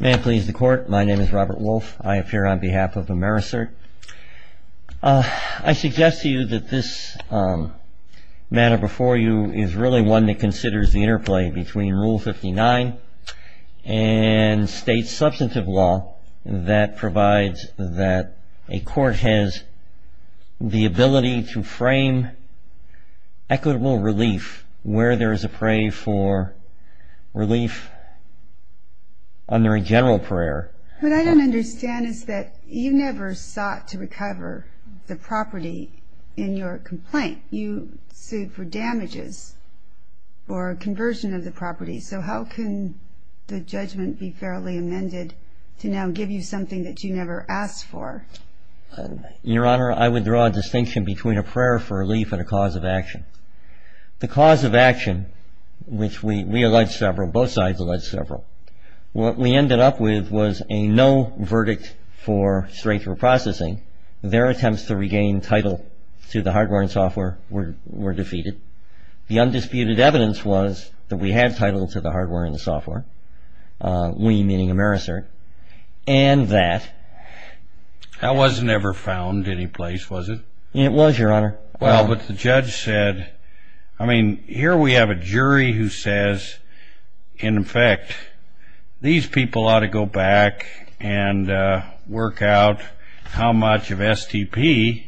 May it please the Court, my name is Robert Wolfe. I appear on behalf of AmeriCERT. I suggest to you that this matter before you is really one that considers the interplay between Rule 59 and state substantive law that provides that a court has the ability to frame equitable relief where there is a pray for relief under a general prayer. What I don't understand is that you never sought to recover the property in your complaint. Why can't you sue for damages or a conversion of the property? So how can the judgment be fairly amended to now give you something that you never asked for? Your Honor, I would draw a distinction between a prayer for relief and a cause of action. The cause of action, which we allege several, both sides allege several, what we ended up with was a no verdict for straight through processing. Their attempts to regain title to the hardware and software were defeated. The undisputed evidence was that we had title to the hardware and the software, we meaning AmeriCERT, and that That wasn't ever found any place, was it? It was, Your Honor. Well, but the judge said, I mean, here we have a jury who says, in effect, these people ought to go back and work out how much of STP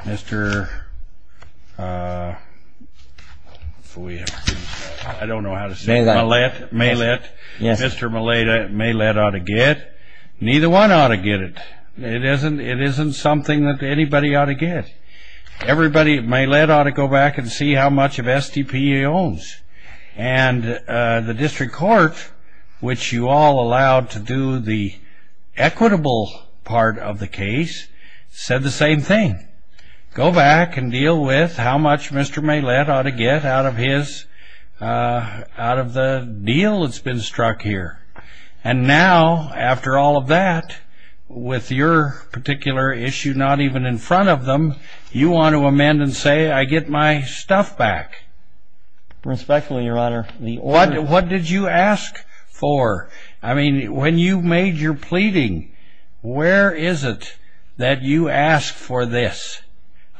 Mr. I don't know how to say it. Millett. Mr. Millett ought to get. Neither one ought to get it. It isn't something that anybody ought to get. Everybody, Millett ought to go back and see how much of STP he owns. And the district court, which you all allowed to do the equitable part of the case, said the same thing. Go back and deal with how much Mr. Millett ought to get out of his, out of the deal that's been struck here. And now, after all of that, with your particular issue not even in front of them, you want to amend and say, I get my stuff back. Respectfully, Your Honor. What did you ask for? I mean, when you made your pleading, where is it that you asked for this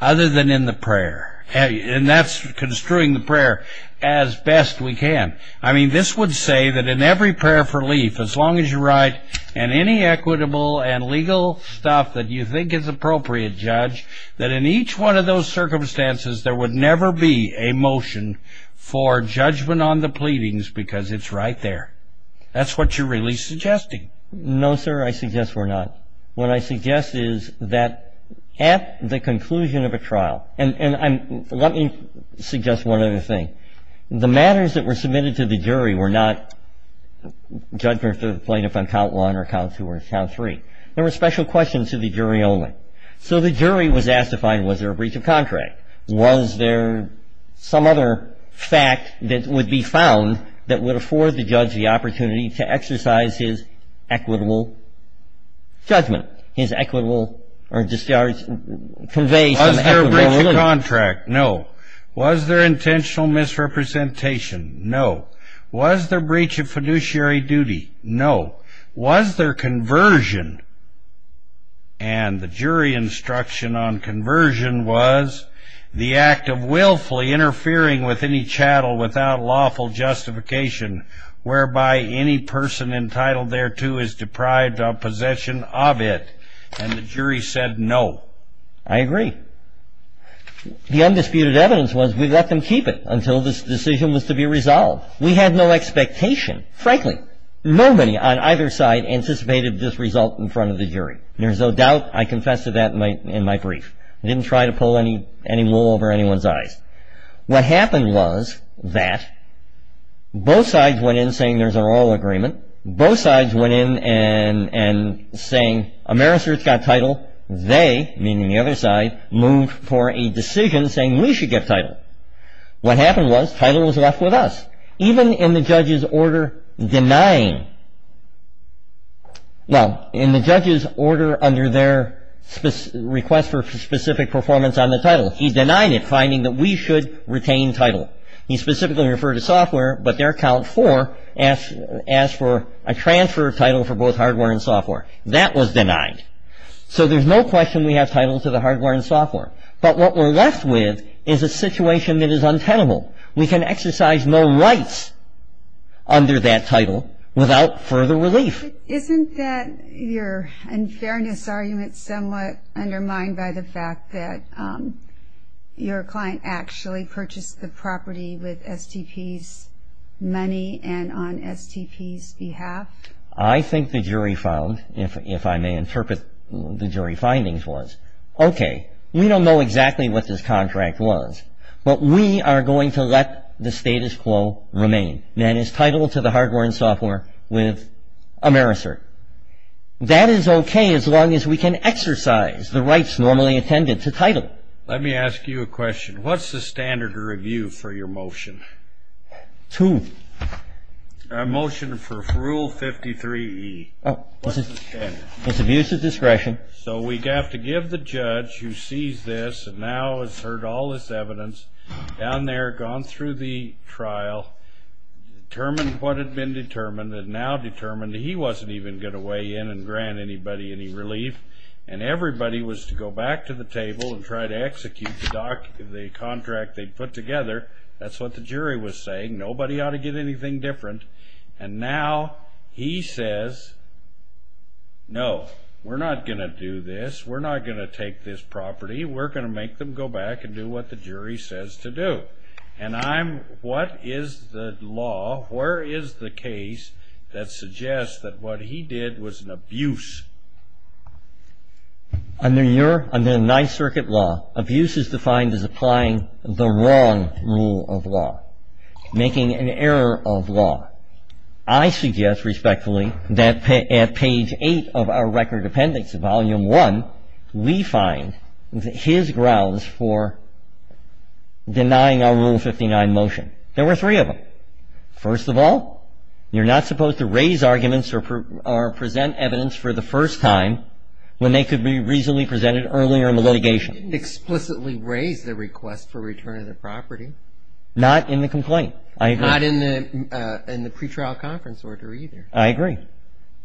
other than in the prayer? And that's construing the prayer as best we can. I mean, this would say that in every prayer for relief, as long as you write any equitable and legal stuff that you think is appropriate, Judge, that in each one of those circumstances there would never be a motion for judgment on the pleadings because it's right there. That's what you're really suggesting. No, sir, I suggest we're not. What I suggest is that at the conclusion of a trial, and let me suggest one other thing. The matters that were submitted to the jury were not judgment for the plaintiff on count one or count two or count three. There were special questions to the jury only. So the jury was asked to find, was there a breach of contract? Was there some other fact that would be found that would afford the judge the opportunity to exercise his equitable judgment, his equitable or discharge, convey some equitable relief? Was there a breach of contract? No. Was there intentional misrepresentation? No. Was there breach of fiduciary duty? No. Was there conversion? And the jury instruction on conversion was the act of willfully interfering with any chattel without lawful justification, whereby any person entitled thereto is deprived of possession of it. And the jury said no. I agree. The undisputed evidence was we let them keep it until this decision was to be resolved. We had no expectation. Frankly, nobody on either side anticipated this result in front of the jury. There's no doubt. I confess to that in my brief. I didn't try to pull any wool over anyone's eyes. What happened was that both sides went in saying there's a royal agreement. Both sides went in and saying Ameristers got title. They, meaning the other side, moved for a decision saying we should get title. What happened was title was left with us, even in the judge's order denying. Well, in the judge's order under their request for specific performance on the title, he denied it, finding that we should retain title. He specifically referred to software, but their count four asked for a transfer of title for both hardware and software. That was denied. So there's no question we have title to the hardware and software. But what we're left with is a situation that is untenable. We can exercise no rights under that title without further relief. Isn't that your unfairness argument somewhat undermined by the fact that your client actually purchased the property with STP's money and on STP's behalf? I think the jury found, if I may interpret the jury findings was, okay, we don't know exactly what this contract was, but we are going to let the status quo remain. And that is title to the hardware and software with a merits cert. That is okay as long as we can exercise the rights normally attended to title. Let me ask you a question. What's the standard of review for your motion? Two. A motion for rule 53E. What's the standard? It's abuse of discretion. Okay. So we have to give the judge who sees this and now has heard all this evidence down there, gone through the trial, determined what had been determined and now determined that he wasn't even going to weigh in and grant anybody any relief. And everybody was to go back to the table and try to execute the contract they put together. That's what the jury was saying. Nobody ought to get anything different. And now he says, no, we're not going to do this. We're not going to take this property. We're going to make them go back and do what the jury says to do. And I'm, what is the law, where is the case that suggests that what he did was an abuse? Under your, under the Ninth Circuit law, abuse is defined as applying the wrong rule of law, making an error of law. I suggest, respectfully, that at page 8 of our Record Appendix, Volume 1, we find his grounds for denying our Rule 59 motion. There were three of them. First of all, you're not supposed to raise arguments or present evidence for the first time when they could be reasonably presented earlier in the litigation. He didn't explicitly raise the request for return of the property. Not in the complaint. I agree. Not in the pretrial conference order either. I agree.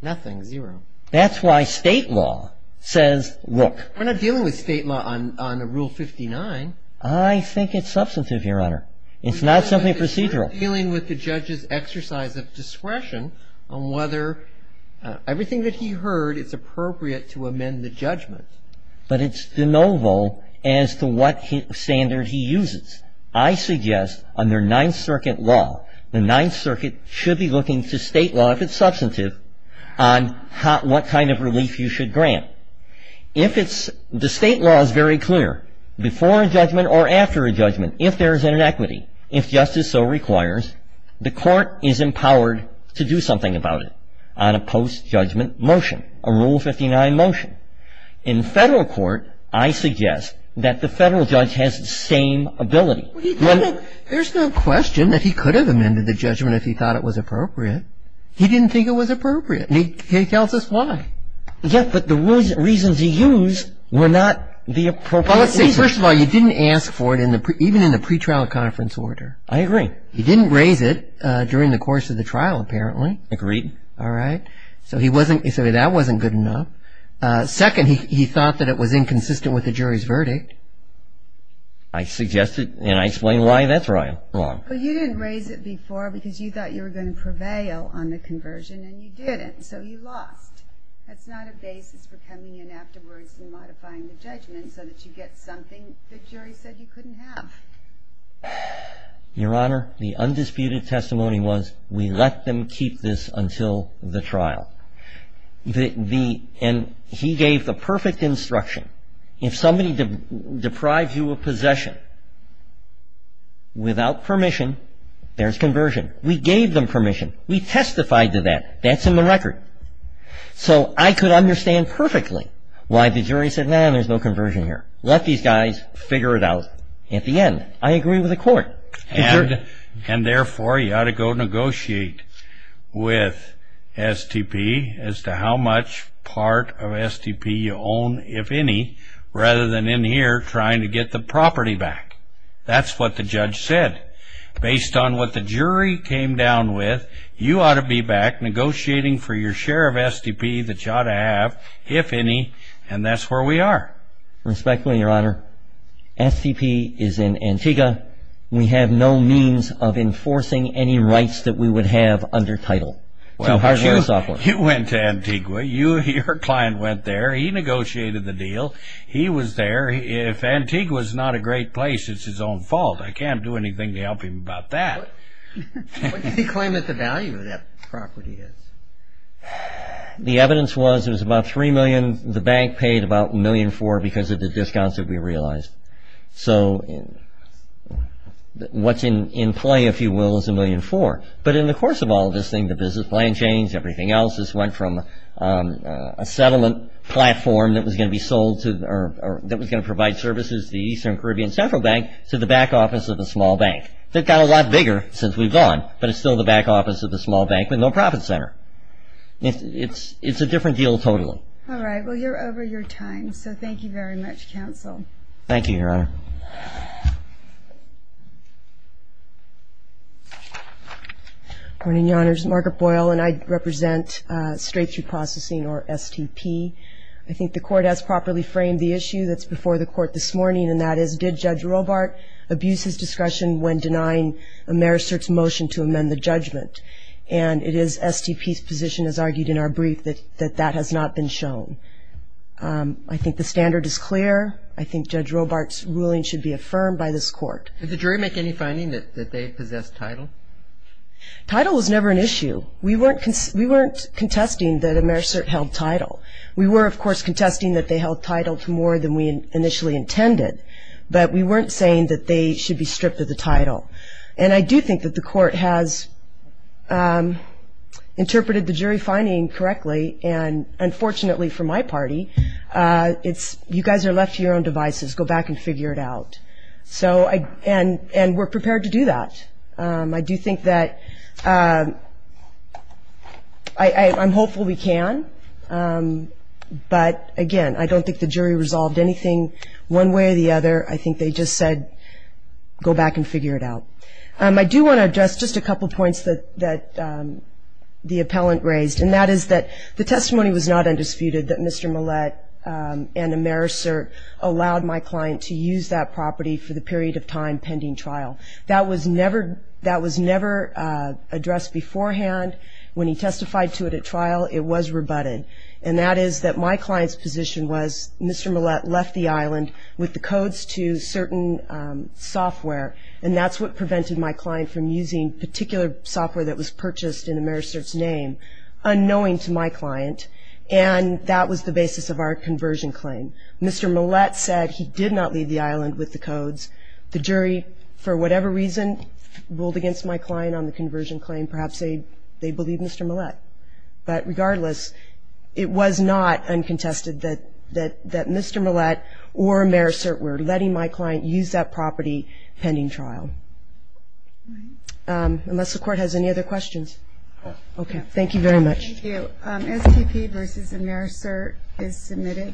Nothing, zero. That's why state law says, look. We're not dealing with state law on the Rule 59. I think it's substantive, Your Honor. It's not something procedural. We're dealing with the judge's exercise of discretion on whether everything that he heard is appropriate to amend the judgment. But it's de novo as to what standard he uses. I suggest under Ninth Circuit law, the Ninth Circuit should be looking to state law, if it's substantive, on what kind of relief you should grant. If it's, the state law is very clear. Before a judgment or after a judgment, if there is an inequity, if justice so requires, the court is empowered to do something about it on a post-judgment motion, a Rule 59 motion. In Federal court, I suggest that the Federal judge has the same ability. There's no question that he could have amended the judgment if he thought it was appropriate. He didn't think it was appropriate. And he tells us why. Yes, but the reasons he used were not the appropriate reasons. First of all, you didn't ask for it even in the pretrial conference order. I agree. He didn't raise it during the course of the trial, apparently. Agreed. All right. So he wasn't, so that wasn't good enough. Second, he thought that it was inconsistent with the jury's verdict. I suggested and I explained why that's wrong. Well, you didn't raise it before because you thought you were going to prevail on the conversion and you didn't. So you lost. That's not a basis for coming in afterwards and modifying the judgment so that you get something the jury said you couldn't have. Your Honor, the undisputed testimony was we let them keep this until the trial. The, and he gave the perfect instruction. If somebody deprives you of possession without permission, there's conversion. We gave them permission. We testified to that. That's in the record. So I could understand perfectly why the jury said, no, there's no conversion here. Let these guys figure it out at the end. I agree with the court. And therefore, you ought to go negotiate with STP as to how much part of STP you own, if any, rather than in here trying to get the property back. That's what the judge said. Based on what the jury came down with, you ought to be back negotiating for your share of STP that you ought to have, if any, and that's where we are. Respectfully, Your Honor, STP is in Antigua. We have no means of enforcing any rights that we would have under title. Well, you went to Antigua. Your client went there. He negotiated the deal. He was there. If Antigua's not a great place, it's his own fault. I can't do anything to help him about that. What did he claim that the value of that property is? The evidence was it was about $3 million. The bank paid about $1.4 million because of the discounts that we realized. So what's in play, if you will, is $1.4 million. But in the course of all of this thing, the business plan changed, everything else. This went from a settlement platform that was going to provide services to the Eastern Caribbean Central Bank to the back office of a small bank. It got a lot bigger since we've gone, but it's still the back office of a small bank with no profit center. It's a different deal totally. All right. Well, you're over your time, so thank you very much, counsel. Thank you, Your Honor. Good morning, Your Honors. Margaret Boyle, and I represent straight-through processing, or STP. I think the Court has properly framed the issue that's before the Court this morning, and that is, did Judge Robart abuse his discussion when denying Americert's motion to amend the judgment? And it is STP's position, as argued in our brief, that that has not been shown. I think the standard is clear. I think Judge Robart's ruling should be affirmed by this Court. Did the jury make any finding that they possessed title? Title was never an issue. We weren't contesting that Americert held title. We were, of course, contesting that they held title to more than we initially intended, but we weren't saying that they should be stripped of the title. And I do think that the Court has interpreted the jury finding correctly, and unfortunately for my party, you guys are left to your own devices. Go back and figure it out. And we're prepared to do that. I do think that I'm hopeful we can, but, again, I don't think the jury resolved anything one way or the other. I think they just said go back and figure it out. I do want to address just a couple points that the appellant raised, and that is that the testimony was not undisputed that Mr. Millett and Americert allowed my client to use that property for the period of time pending trial. That was never addressed beforehand. When he testified to it at trial, it was rebutted. And that is that my client's position was Mr. Millett left the island with the codes to certain software, and that's what prevented my client from using particular software that was purchased in Americert's name, unknowing to my client, and that was the basis of our conversion claim. Mr. Millett said he did not leave the island with the codes. The jury, for whatever reason, ruled against my client on the conversion claim. Perhaps they believe Mr. Millett. But regardless, it was not uncontested that Mr. Millett or Americert were letting my client use that property pending trial. Unless the Court has any other questions. Okay. Thank you very much. Thank you. SCP v. Americert is submitted.